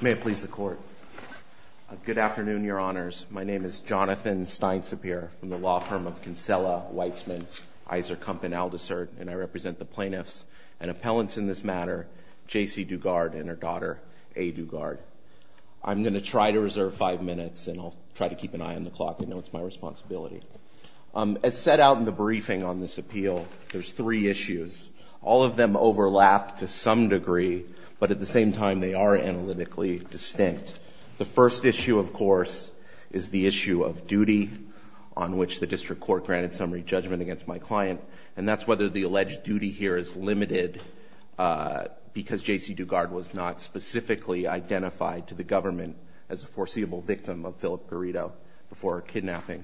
May it please the Court. Good afternoon, Your Honors. My name is Jonathan Stein-Sapir from the law firm of Kinsella, Weizmann, Iser, Kump, and Aldisert, and I represent the plaintiffs and appellants in this matter, Jacee Dugard and her daughter A. Dugard. I'm going to try to reserve five minutes, and I'll try to keep an eye on the clock. I know it's my responsibility. As set out in the briefing on this appeal, there's three issues. All of them overlap to some degree, but at the same time, they are analytically distinct. The first issue, of course, is the issue of duty on which the district court granted summary judgment against my client, and that's whether the alleged duty here is limited because Jacee Dugard was not specifically identified to the government as a foreseeable victim of Philip Garrido before her kidnapping.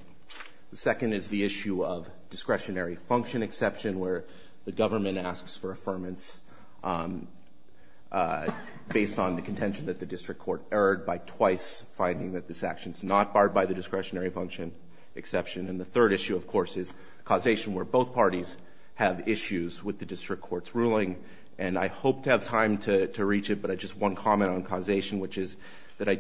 The second is the issue of discretionary function exception, where the government asks for affirmance based on the contention that the district court erred by twice finding that this action is not barred by the discretionary function exception. And the third issue, of course, is causation, where both parties have issues with the district court's ruling, and I hope to have time to reach it, but just one comment on causation, which is that I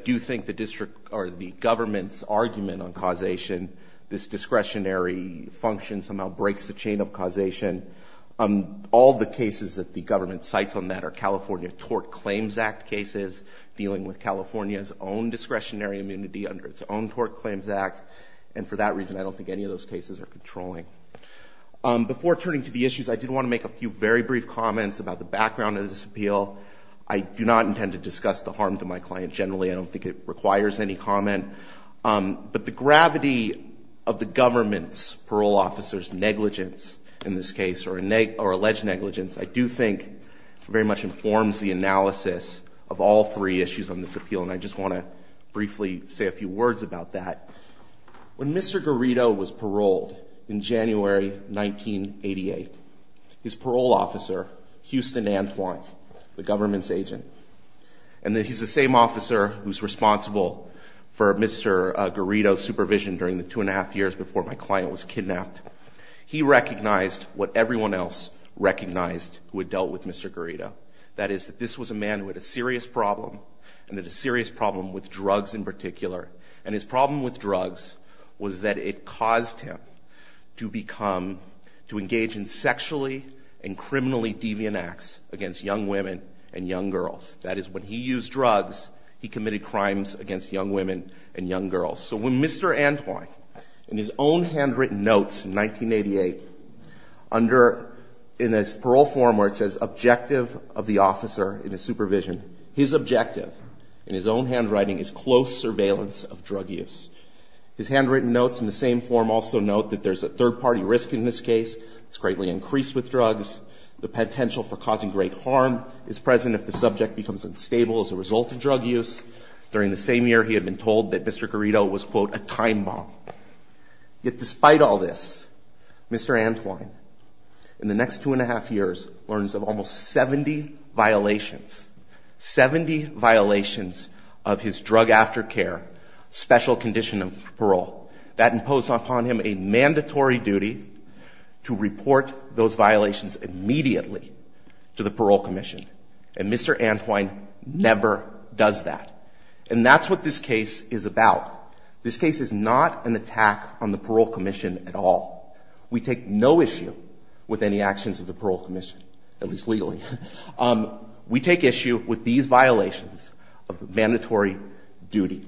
discretionary function somehow breaks the chain of causation. All the cases that the government cites on that are California Tort Claims Act cases dealing with California's own discretionary immunity under its own Tort Claims Act, and for that reason, I don't think any of those cases are controlling. Before turning to the issues, I did want to make a few very brief comments about the background of this appeal. I do not intend to discuss the harm to my client generally. I don't think it requires any comment, but the gravity of the government's parole officer's negligence in this case, or alleged negligence, I do think very much informs the analysis of all three issues on this appeal, and I just want to briefly say a few words about that. When Mr. Garrido was paroled in January 1988, his parole officer, Houston Antwine, the government's crime officer who's responsible for Mr. Garrido's supervision during the two and a half years before my client was kidnapped, he recognized what everyone else recognized who had dealt with Mr. Garrido. That is that this was a man who had a serious problem, and had a serious problem with drugs in particular, and his problem with drugs was that it caused him to become, to engage in sexually and criminally deviant acts against young women and young girls. So when Mr. Antwine, in his own handwritten notes in 1988, under, in his parole form where it says, objective of the officer in his supervision, his objective, in his own handwriting, is close surveillance of drug use. His handwritten notes in the same form also note that there's a third-party risk in this case. It's greatly increased with drugs. The potential for causing great harm is present if the subject becomes unstable as a result of drug use. During the same year, he had been told that Mr. Garrido was quote, a time bomb. Yet despite all this, Mr. Antwine, in the next two and a half years, learns of almost 70 violations, 70 violations of his drug aftercare special condition of parole. That imposed upon him a mandatory duty to report those violations immediately to the parole commission. And Mr. Antwine never does that. And that's what this case is about. This case is not an attack on the parole commission at all. We take no issue with any actions of the parole commission, at least legally. We take issue with these violations of the mandatory duty.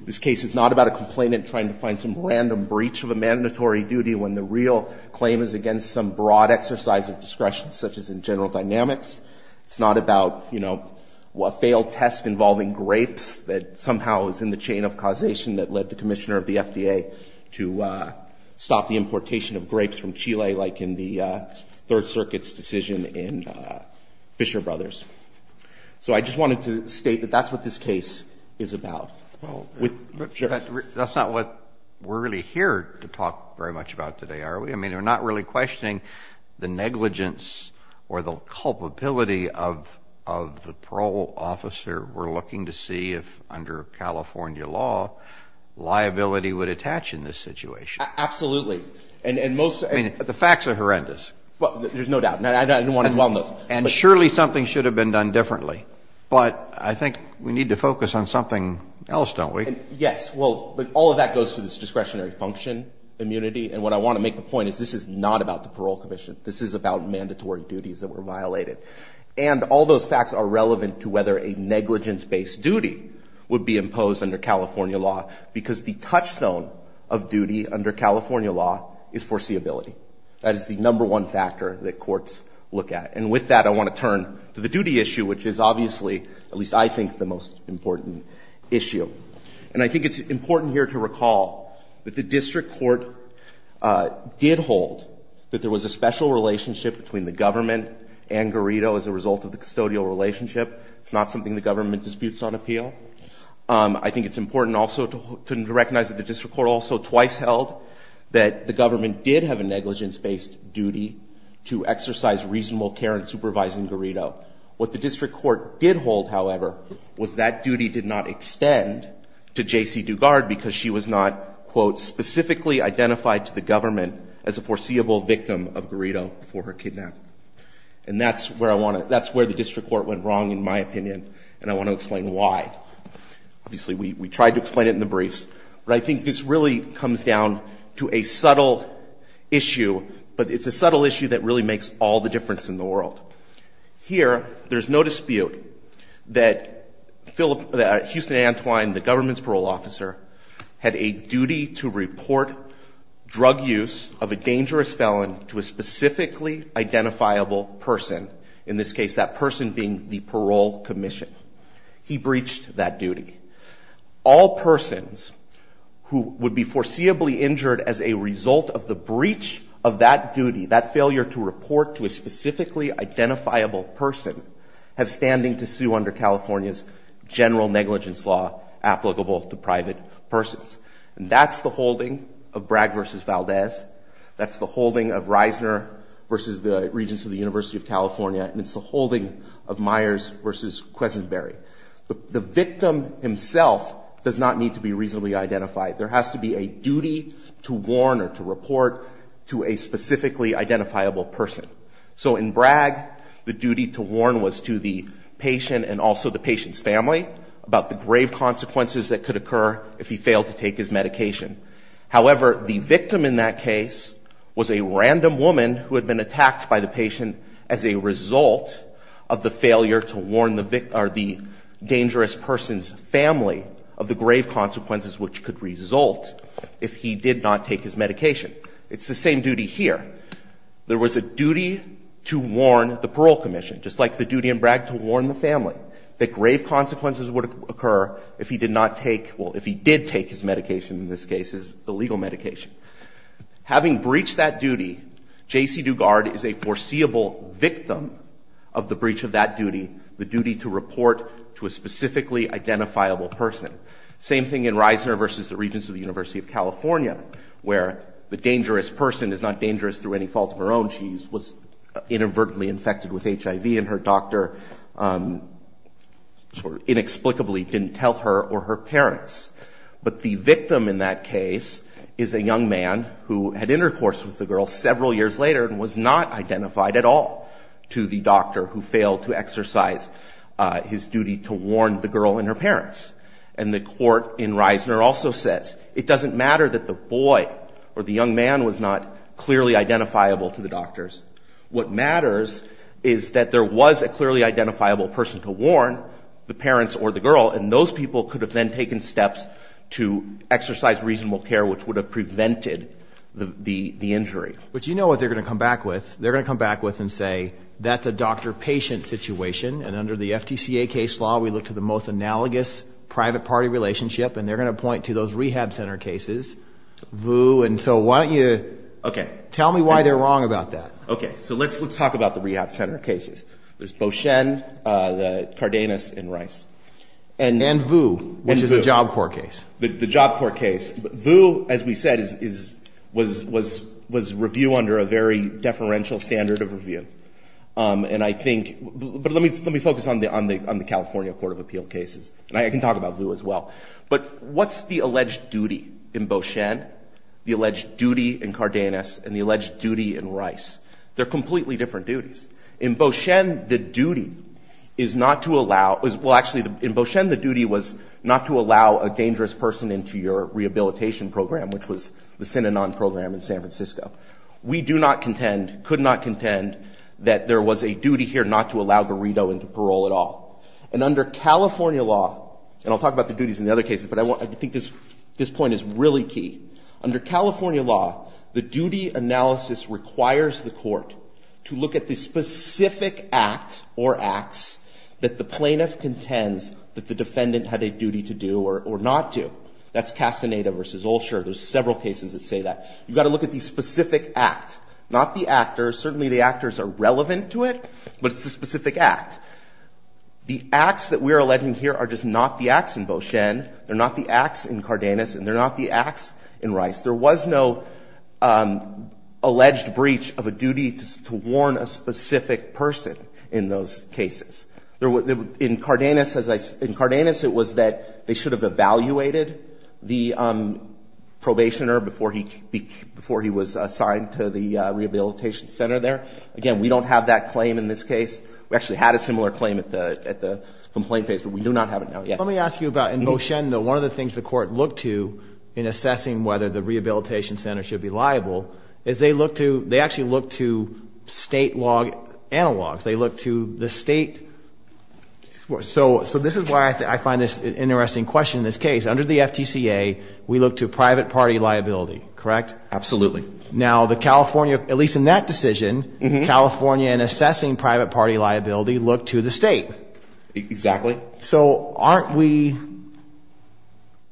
This case is not about a complainant trying to find some random breach of a mandatory duty when the real claim is against some broad exercise of discretion, such as in general dynamics. It's not about, you know, a failed test involving grapes that somehow is in the chain of causation that led the commissioner of the FDA to stop the importation of grapes from Chile, like in the Third Circuit's decision in Fisher Brothers. So I just wanted to state that that's what this case is about. Well, that's not what we're really here to talk very much about today, are we? I mean, we're not really questioning the negligence or the culpability of the parole officer. We're looking to see if, under California law, liability would attach in this situation. Absolutely. And most... The facts are horrendous. Well, there's no doubt. And I don't want to dwell on those. And surely something should have been done differently. But I think we need to focus on something else, don't we? Yes. Well, all of that goes to this discretionary function, immunity. And what I want to make a point is this is not about the parole commission. This is about mandatory duties that were violated. And all those facts are relevant to whether a negligence-based duty would be imposed under California law, because the touchstone of duty under California law is foreseeability. That is the number one factor that courts look at. And with that, I want to turn to the duty issue, which is obviously, at least I think, the most important issue. And I think it's important here to recall that the district court did hold that there was a special relationship between the government and Garrido as a result of the custodial relationship. It's not something the government disputes on appeal. I think it's important also to recognize that the district court also twice held that the government did have a negligence-based duty to exercise reasonable care in supervising And that's where I want to – that's where the district court went wrong, in my opinion, and I want to explain why. Obviously, we tried to explain it in the briefs. But I think this really comes down to a subtle issue, but it's a subtle issue that really makes all the difference in the world. Here, there's no dispute that Houston Antwine, the government's parole officer, had a duty to report drug use of a dangerous felon to a specifically identifiable person, in this case that person being the parole commission. He breached that duty. All persons who would be foreseeably injured as a result of the breach of that duty, that failure to report to a specifically identifiable person, have standing to sue under California's general negligence law applicable to private persons. And that's the holding of Bragg v. Valdez. That's the holding of Reisner v. the Regents of the University of California. And it's the holding of Myers v. Quesenberry. The victim himself does not need to be reasonably identified. There has to be a duty to warn or to report to a specifically identifiable person. So in Bragg, the duty to warn was to the patient and also the patient's family about the grave consequences that could occur if he failed to take his medication. However, the victim in that case was a random woman who had been attacked by the patient as a result of the failure to warn the dangerous person's family of the grave consequences which could result if he did not take his medication. It's the same duty here. There was a duty to warn the parole commission, just like the duty in Bragg to warn the family that grave consequences would occur if he did not take — well, if he did take his medication in this case, his illegal medication. Having breached that duty, J.C. Dugard is a foreseeable victim of the breach of that duty, the duty to report to a specifically identifiable person. Same thing in Reisner v. The Regents of the University of California, where the dangerous person is not dangerous through any fault of her own. She was inadvertently infected with HIV and her doctor sort of inexplicably didn't tell her or her parents. But the victim in that case is a young man who had intercourse with the girl several years later and was not identified at all to the doctor who failed to exercise his duty to warn the girl and her parents. And the court in Reisner also says it doesn't matter that the boy or the young man was not clearly identifiable to the doctors. What matters is that there was a clearly identifiable person to warn, the parents or the girl, and those people could have then taken steps to exercise reasonable care which would have prevented the injury. But you know what they're going to come back with. They're going to come back with and say that's a doctor-patient situation, and under the FTCA case law we look to the most analogous private-party relationship, and they're going to point to those rehab center cases, Vu, and so why don't you tell me why they're wrong about that? Okay, so let's talk about the rehab center cases. There's Beauchesne, Cardenas, and Reis. And Vu, which is a Job Corps case. The Job Corps case. Vu, as we said, was review under a very deferential standard of review. And I think, but let me focus on the California Court of Appeal cases. And I can talk about Vu as well. But what's the alleged duty in Beauchesne, the alleged duty in Cardenas, and the alleged duty in Reis? They're completely different duties. In Beauchesne, the duty is not to allow a dangerous person into your rehabilitation program, which was the Synanon program in San Francisco. We do not contend, could not contend, that there was a duty here not to allow Garrido into parole at all. And under California law, and I'll talk about the duties in the other cases, but I think this point is really key. Under California law, the duty analysis requires the court to look at the specific act or acts that the plaintiff contends that the defendant had a duty to do or not do. That's Castaneda versus Olshur. There's several cases that say that. You've got to look at the specific act, not the actors. Certainly the actors are relevant to it, but it's the specific act. The acts that we're alleging here are just not the acts in Beauchesne. They're not the acts in Cardenas, and they're not the acts in Reis. There was no alleged breach of a duty to warn a specific person in those cases. In Cardenas, it was that they should have evaluated the probationer before he was assigned to the rehabilitation center there. Again, we don't have that claim in this case. We actually had a similar claim at the complaint phase, but we do not have it now yet. Let me ask you about in Beauchesne, though, one of the things the court looked to in assessing whether the rehabilitation center should be liable is they look to, they actually look to state log analogs. They look to the state. This is why I find this an interesting question in this case. Under the FTCA, we look to private party liability, correct? Absolutely. Now the California, at least in that decision, California in assessing private party liability looked to the state. Exactly. So aren't we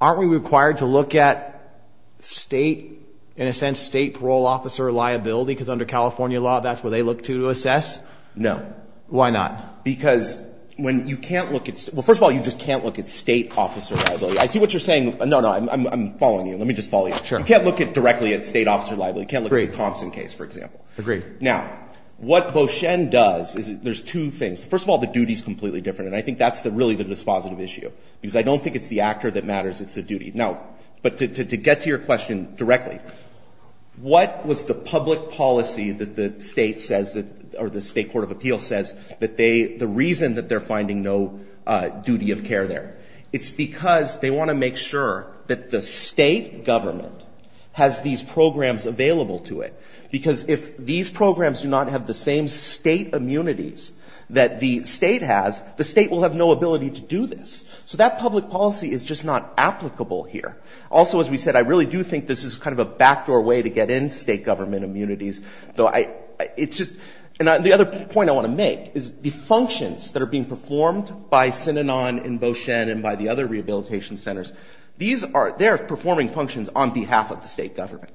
required to look at state, in a sense, state parole officer liability because under California law, that's what they look to assess? No. Why not? Because when you can't look at, well, first of all, you just can't look at state officer liability. I see what you're saying. No, no, I'm following you. Let me just follow you. Sure. You can't look directly at state officer liability. You can't look at the Thompson case, for example. Agreed. Now, what Beauchesne does is there's two things. First of all, the duty is completely different, and I think that's really the dispositive issue because I don't think it's the actor that matters. It's the duty. Now, but to get to your question directly, what was the public policy that the state says that, or the state court of appeals says that they, the reason that they're finding no duty of care there? It's because they want to make sure that the state government has these programs available to it because if these programs do not have the same state immunities that the state has, the state will have no ability to do this. So that public policy is just not applicable here. Also, as we said, I really do think this is kind of a backdoor way to get in state government immunities. So I, it's just, and the other point I want to make is the functions that are being performed by Synanon and Beauchesne and by the other rehabilitation centers, these are, they're performing functions on behalf of the state government.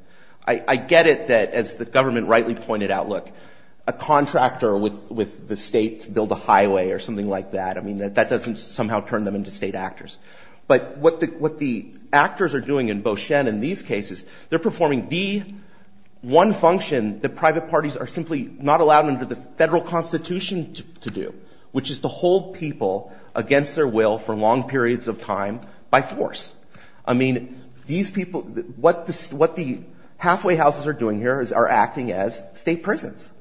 I get it that, as the government rightly pointed out, look, a contractor with the state to build a highway or something like that, I mean, that doesn't somehow turn them into state actors. But what the, what the actors are doing in Beauchesne in these cases, they're performing the one function that private parties are simply not allowed under the federal constitution to do, which is to hold people against their will for long periods of time by force. I mean, these people, what the, what the halfway houses are doing here is, are acting as state prisons.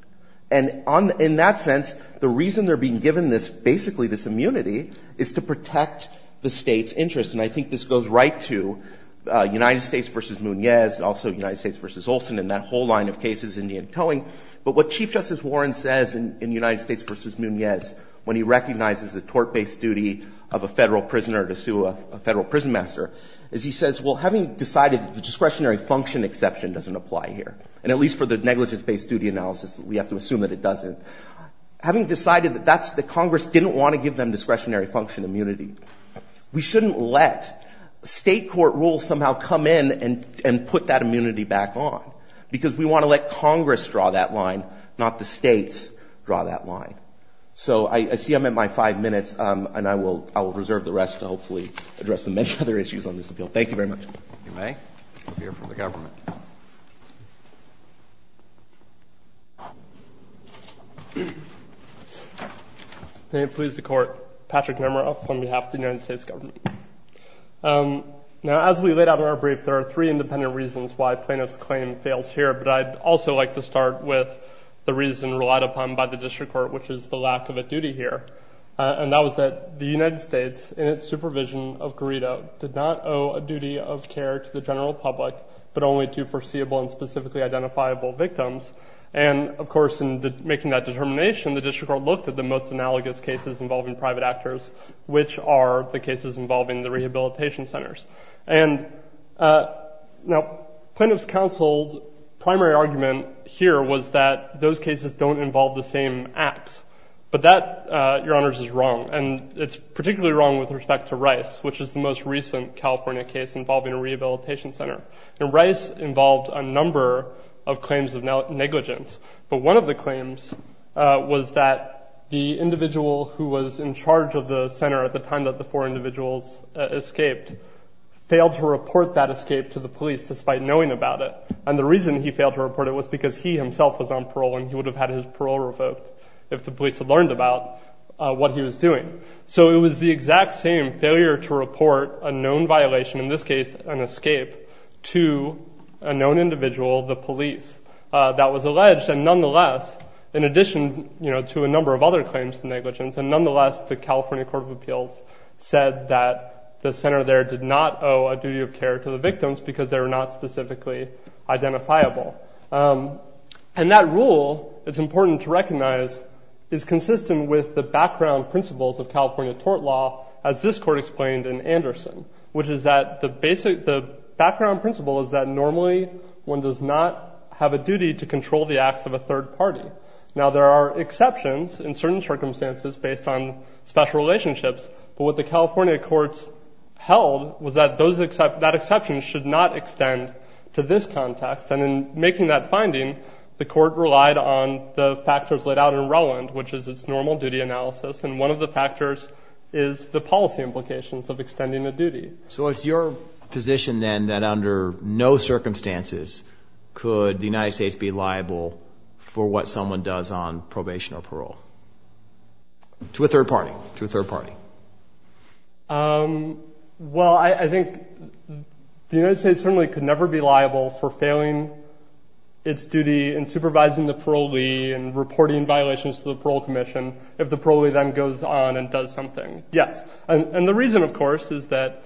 And on, in that sense, the reason they're being given this, basically this immunity, is to protect the state's interests. And I think this goes right to United States v. Munez, also United States v. Olson, and that whole line of cases, Indy and Towing. But what Chief Justice Warren says in United States v. Munez, when he recognizes the tort-based duty of a federal prisoner to sue a federal prison master, is he says, well, having decided that the discretionary function exception doesn't apply here, and at least for the negligence-based duty analysis, we have to assume that it doesn't. Having decided that that's, that Congress didn't want to give them discretionary function immunity, we shouldn't let state court rules somehow come in and, and put that immunity back on, because we want to let Congress draw that line, not the states draw that line. So I, I see I'm at my five minutes, and I will, I will reserve the rest to hopefully address the many other issues on this appeal. Thank you very much. If you may, we'll hear from the government. May it please the Court, Patrick Nemeroff on behalf of the United States government. Now, as we laid out in our brief, there are three independent reasons why Plano's claim fails here, but I'd also like to start with the reason relied upon by the district court, which is the lack of a duty here, and that was that the United States, in its supervision of Garrido, did not owe a duty of care to the general public, but only to foreseeable and specifically identifiable victims, and of course, in making that determination, the district court looked at the most analogous cases involving private actors, which are the cases involving the rehabilitation centers, and now Plano's counsel's primary argument here was that those cases don't involve the same acts, but that, Your Honors, is wrong, and it's particularly wrong with respect to Rice, which is the most recent California case involving a rehabilitation center, and Rice involved a number of claims of negligence, but one of the claims was that the individual who was in charge of the center at the time that the four individuals escaped failed to report that escape to the police, despite knowing about it, and the reason he failed to report it was because he himself was on duty, so it was the exact same failure to report a known violation, in this case an escape, to a known individual, the police, that was alleged, and nonetheless, in addition to a number of other claims of negligence, and nonetheless, the California Court of Appeals said that the center there did not owe a duty of care to the victims because they were not specifically identifiable, and that rule, it's important to recognize, is consistent with the background principles of California tort law, as this court explained in Anderson, which is that the background principle is that normally one does not have a duty to control the acts of a third party. Now, there are exceptions in certain circumstances based on special relationships, but what the California courts held was that that exception should not extend to this context, and in making that finding, the court relied on the factors laid out in Rowland, which is its normal duty analysis, and one of the factors is the policy implications of extending a duty. So it's your position, then, that under no circumstances could the United States be liable for what someone does on probation or parole, to a third party, to a third party? Well, I think the United States certainly could never be liable for failing its duty in supervising the parolee and reporting violations to the parole commission if the parolee then goes on and does something. Yes. And the reason, of course, is that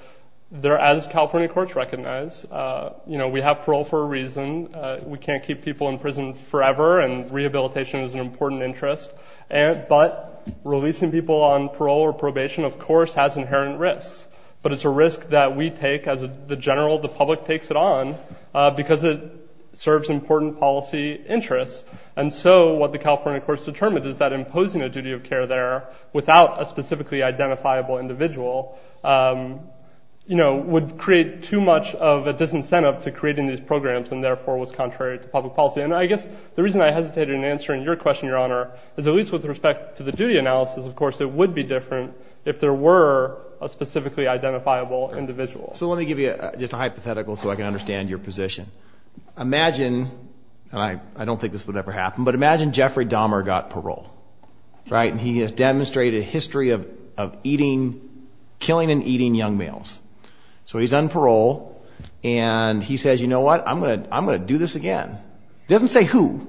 as California courts recognize, you know, we have parole for a reason. We can't keep people in prison forever, and rehabilitation is an important interest, but releasing people on parole or probation, of course, has inherent risks, but it's a risk that we take as the general, the public takes it on because it serves important policy interests, and so what the California courts determined is that imposing a duty of care there without a specifically identifiable individual, you know, would create too much of a disincentive to creating these programs and, therefore, was contrary to public policy. And I guess the reason I hesitated in answering your question, Your Honor, is at least with respect to the duty analysis, of course, it would be different if there were a specifically identifiable individual. So let me give you just a hypothetical so I can understand your position. Imagine, and I don't think this would ever happen, but imagine Jeffrey Dahmer got parole, right, and he has demonstrated a history of eating, killing and eating young males. So he's on parole, and he says, you know what, I'm going to do this again. He doesn't say who.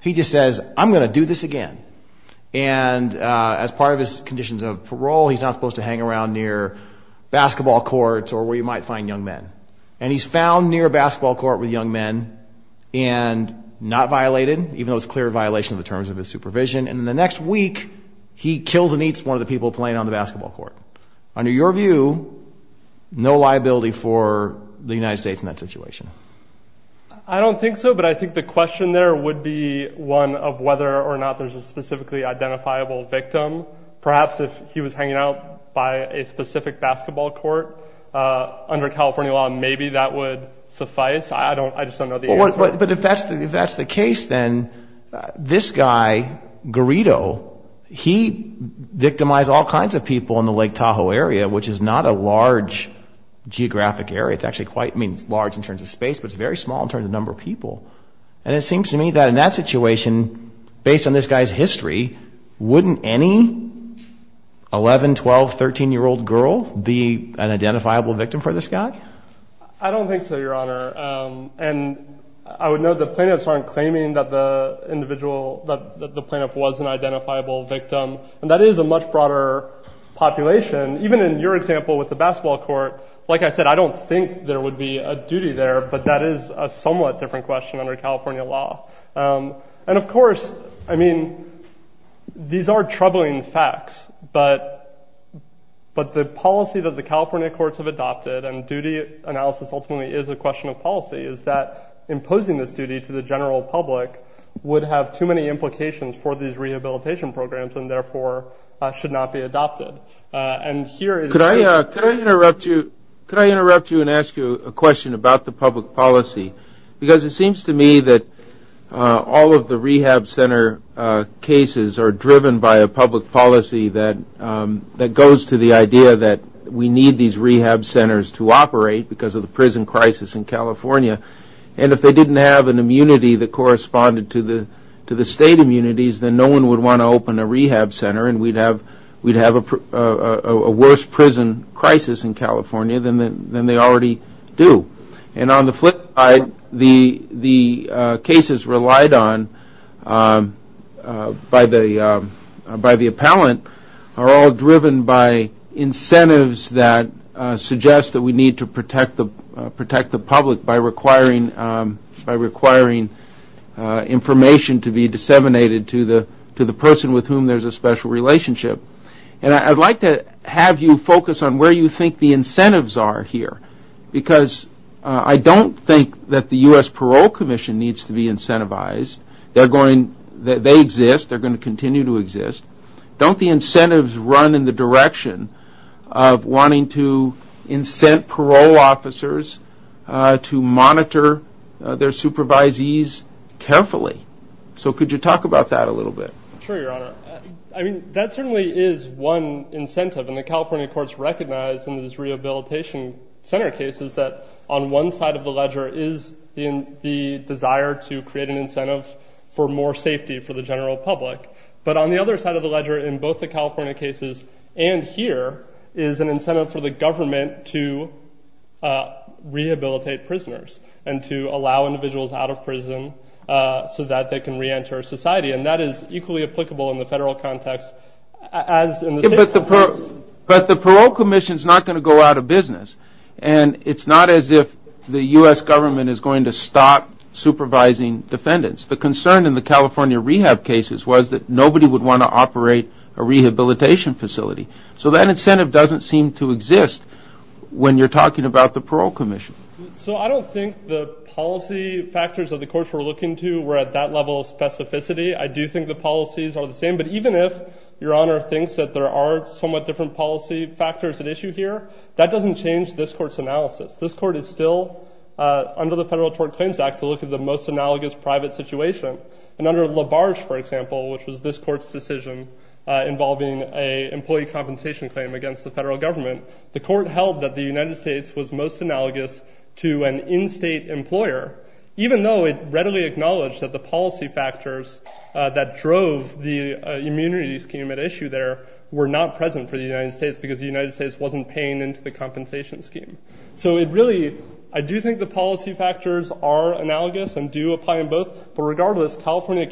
He just says, I'm going to do this again. And as part of his conditions of parole, he's not supposed to hang around near basketball courts or where you might find young men. And he's found near a basketball court with young men and not violated, even though it's a clear violation of the terms of his supervision. And the next week, he kills and eats one of the people playing on the basketball court. Under your view, no liability for the United States in that situation? I don't think so, but I think the question there would be one of whether or not there's a specifically identifiable victim. Perhaps if he was hanging out by a specific basketball court, under California law, maybe that would suffice. I just don't know the answer. But if that's the case, then this guy, Garrido, he victimized all kinds of people in the Lake Tahoe area, which is not a large geographic area. It's actually quite large in terms of space, but it's very small in terms of number of people. And it seems to me that in that history, wouldn't any 11-, 12-, 13-year-old girl be an identifiable victim for this guy? I don't think so, Your Honor. And I would note the plaintiffs aren't claiming that the individual, that the plaintiff was an identifiable victim. And that is a much broader population. Even in your example with the basketball court, like I said, I don't think there would be a duty there, but that is a somewhat different question under California law. And of course, I mean, these are troubling facts, but the policy that the California courts have adopted, and duty analysis ultimately is a question of policy, is that imposing this duty to the general public would have too many implications for these rehabilitation programs and therefore should not be adopted. And here is... Could I interrupt you and ask you a question about the public policy? Because it seems to me that all of the rehab center cases are driven by a public policy that goes to the idea that we need these rehab centers to operate because of the prison crisis in California. And if they didn't have an immunity that corresponded to the state immunities, then no one would want to open a rehab center and we'd have a worse prison crisis in California than they already do. And on the flip side, the cases relied on by the appellant are all driven by incentives that suggest that we need to protect the public by requiring information to be disseminated to the person with whom there is a special relationship. And I'd like to have you focus on where you think the incentives are here because I don't think that the U.S. Parole Commission needs to be incentivized. They exist, they're going to continue to exist. Don't the incentives run in the direction of wanting to incent parole officers to monitor their supervisees carefully? So could you talk about that a little bit? Sure, Your Honor. I mean, that certainly is one incentive. And the California courts recognize in these rehabilitation center cases that on one side of the ledger is the desire to create an incentive for more safety for the general public. But on the other side of the ledger in both the California cases and here is an incentive for the government to rehabilitate prisoners and to allow individuals out of prison so that they can reenter society. And that is equally applicable in the federal context as in the state context. But the parole commission is not going to go out of business. And it's not as if the U.S. government is going to stop supervising defendants. The concern in the California rehab cases was that nobody would want to operate a rehabilitation facility. So that incentive doesn't seem to exist when you're talking about the parole commission. So I don't think the policy factors of the courts we're looking to were at that level of specificity. I do think the policies are the same. But even if Your Honor thinks that there are somewhat different policy factors at issue here, that doesn't change this court's analysis. This court is still under the Federal Tort Claims Act to look at the most analogous private situation. And under LaBarge, for example, which was this court's decision involving an employee compensation claim against the federal government, the court held that the United States was most analogous to an in-state employer, even though it readily acknowledged that the policy factors that drove the immunity scheme at issue there were not present for the United States because the United States wasn't paying into the compensation scheme. So it really, I do think the policy factors are analogous and do apply in both. But regardless, California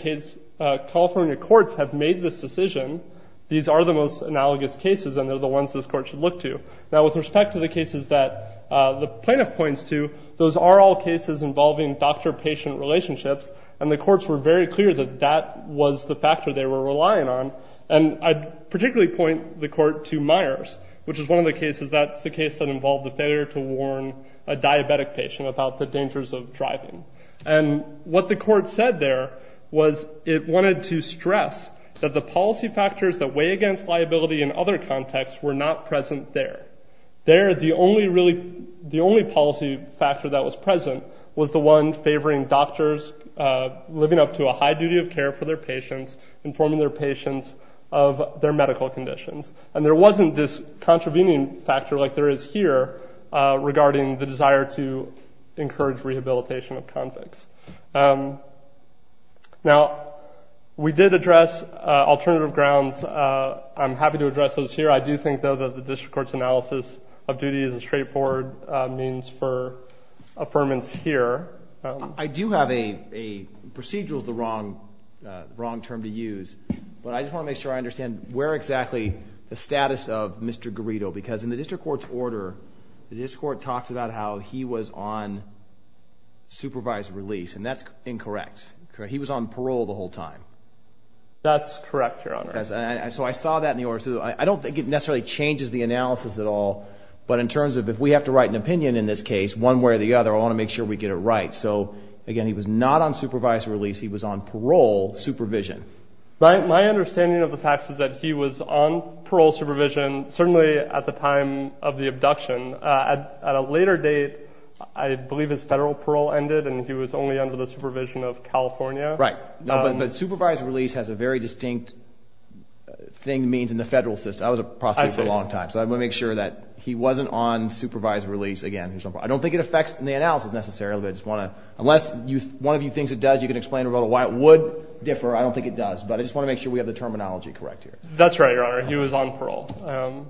courts have made this decision. These are the most analogous cases, and they're the ones this court should look to. Now, with respect to the cases that the plaintiff points to, those are all cases involving doctor-patient relationships, and the courts were very clear that that was the factor they were relying on. And I'd particularly point the court to Myers, which is one of the cases that's the case that involved the failure to warn a diabetic patient about the dangers of driving. And what the court said there was it wanted to stress that the policy factors that weigh against liability in other contexts were not present there. There, the only really policy factor that was present was the one favoring doctors living up to a high duty of care for their patients, informing their patients of their medical conditions. And there wasn't this contravening factor like there is here regarding the desire to encourage rehabilitation of convicts. Now, we did address alternative grounds. I'm happy to address those here. I do think, though, that the district court's analysis of duty is a straightforward means for affirmance here. I do have a procedural is the wrong term to use, but I just want to make sure I understand where exactly the status of Mr. Garrido, because in the district court's order, the district court talks about how he was on supervised release, and that's incorrect. He was on parole the whole time. That's correct, Your Honor. So I saw that in the order. So I don't think it necessarily changes the analysis at all, but in terms of if we have to write an opinion in this case, one way or the other, I want to make sure we get it right. So, again, he was not on supervised release. He was on parole supervision. My understanding of the facts is that he was on parole supervision certainly at the time of the abduction. At a later date, I believe his federal parole ended and he was only under the supervision of California. Right. But supervised release has a very distinct thing to mean in the federal system. I was a prosecutor for a long time. I see. So I want to make sure that he wasn't on supervised release again. I don't think it affects the analysis necessarily, but I just want to, unless one of you thinks it does, you can explain why it would differ. I don't think it does. But I just want to make sure we have the terminology correct here. That's right, Your Honor. He was on parole.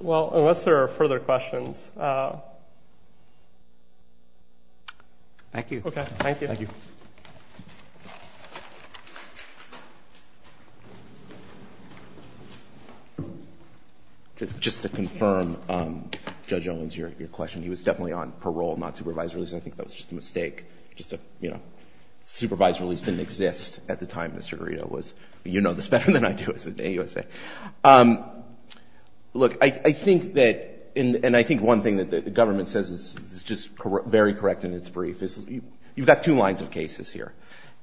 Well, unless there are further questions. Thank you. Okay. Thank you. Thank you. Just to confirm, Judge Owens, your question, he was definitely on parole, not supervised release. I think that was just a mistake. Just a, you know, supervised release didn't exist at the time Mr. Garrido was. You know this better than I do as an AUSA. Look, I think that, and I think one thing that the government says is just very correct in its brief is you've got two lines of cases here.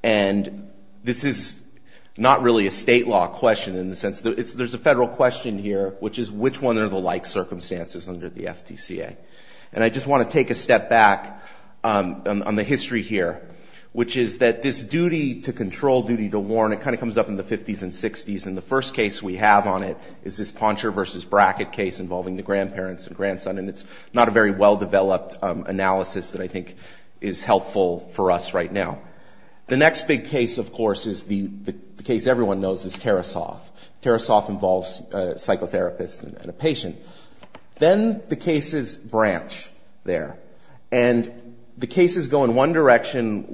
And this is not really a state law question in the sense that there's a federal question here, which is which one are the like circumstances under the FTCA. And I just want to take a step back on the history here, which is that this duty to control, duty to warn, it kind of comes up in the 50s and 60s. And the first case we have on it is this Poncher v. Brackett case involving the grandparents and grandson. And it's not a very well-developed analysis that I think is helpful for us right now. The next big case, of course, is the case everyone knows is Tarasoff. Tarasoff involves a psychotherapist and a patient. Then the cases branch there. And the cases go in one direction.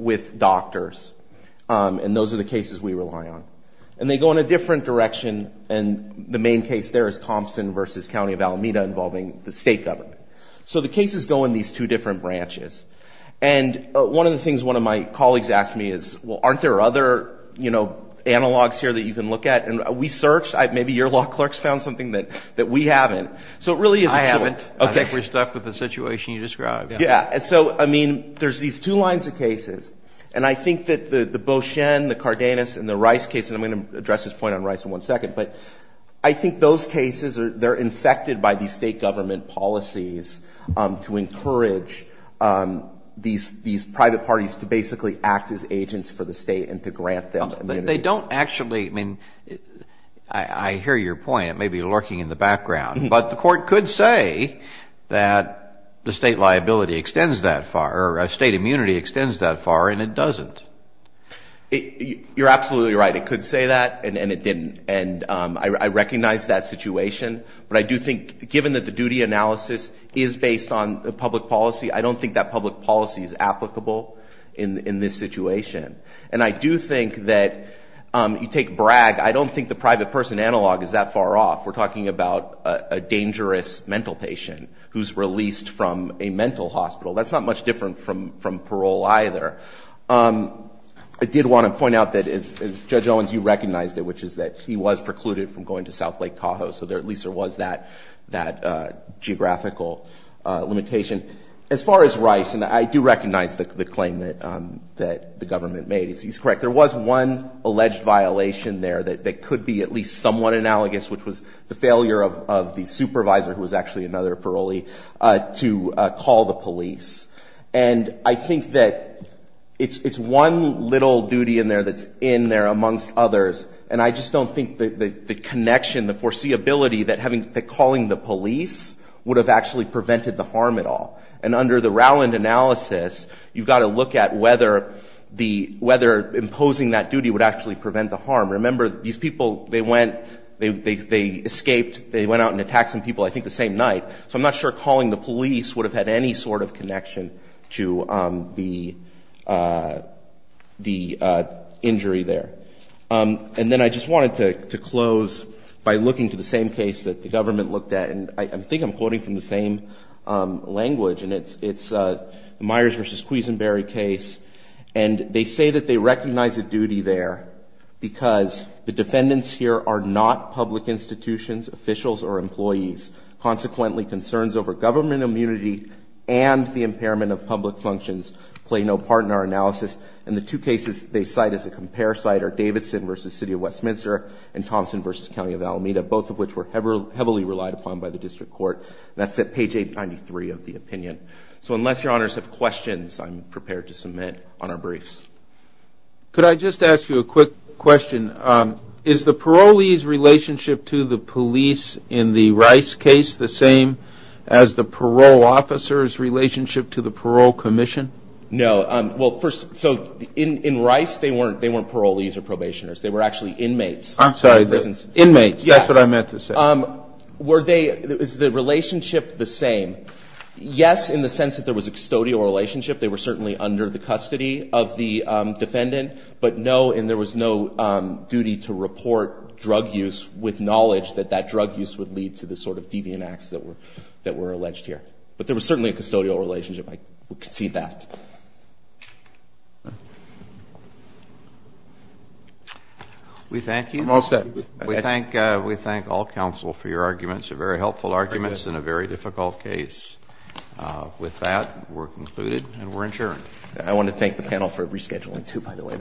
And the main case there is Thompson v. County of Alameda involving the state government. So the cases go in these two different branches. And one of the things one of my colleagues asked me is, well, aren't there other, you know, analogs here that you can look at? And we searched. Maybe your law clerk's found something that we haven't. So it really is excellent. I haven't. Okay. I think we're stuck with the situation you described. Yeah. And so, I mean, there's these two lines of cases. And I think that the Beauchene, the Cardenas, and the Rice case, and I'm going to address this point on Rice in one second, but I think those cases are, they're infected by these state government policies to encourage these private parties to basically act as agents for the state and to grant them immunity. But they don't actually, I mean, I hear your point. It may be lurking in the background. But the court could say that the state liability extends that far, or state immunity extends that far, and it doesn't. You're absolutely right. It could say that, and it didn't. And I recognize that situation. But I do think, given that the duty analysis is based on a public policy, I don't think that public policy is applicable in this situation. And I do think that, you take Bragg, I don't think the private person analog is that far off. We're talking about a dangerous mental patient who's released from a mental hospital. That's not much different from parole, either. I did want to point out that, Judge Owens, you recognized it, which is that he was precluded from going to South Lake Tahoe. So at least there was that geographical limitation. As far as Rice, and I do recognize the claim that the government made. He's correct. There was one alleged violation there that could be at least somewhat analogous, which was the failure of the supervisor, who was actually another parolee, to call the police. And I think that it's one little duty in there that's in there amongst others. And I just don't think that the connection, the foreseeability that calling the police would have actually prevented the harm at all. And under the Rowland analysis, you've got to look at whether imposing that duty would actually prevent the harm. Remember, these people, they escaped, they went out and attacked some people, I think, the same night. So I'm not sure calling the police would have had any sort of connection to the injury there. And then I just wanted to close by looking to the same case that the government looked at. And I think I'm quoting from the same language, and it's the Myers versus here are not public institutions, officials, or employees. Consequently, concerns over government immunity and the impairment of public functions play no part in our analysis. And the two cases they cite as a compare cite are Davidson v. City of Westminster and Thompson v. County of Alameda, both of which were heavily relied upon by the district court. That's at page 893 of the opinion. So unless Your Honors have questions, I'm prepared to submit on our briefs. Could I just ask you a quick question? Is the parolee's relationship to the police in the Rice case the same as the parole officer's relationship to the parole commission? No. Well, first, so in Rice, they weren't parolees or probationers. They were actually inmates. I'm sorry, inmates, that's what I meant to say. Were they, is the relationship the same? Yes, in the sense that there was a custody of the defendant, but no, and there was no duty to report drug use with knowledge that that drug use would lead to the sort of deviant acts that were alleged here. But there was certainly a custodial relationship. I concede that. We thank you. I'm all set. We thank all counsel for your arguments, very helpful arguments in a very difficult case. With that, we're concluded and we're adjourned. I want to thank the panel for rescheduling too, by the way.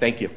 Thank you.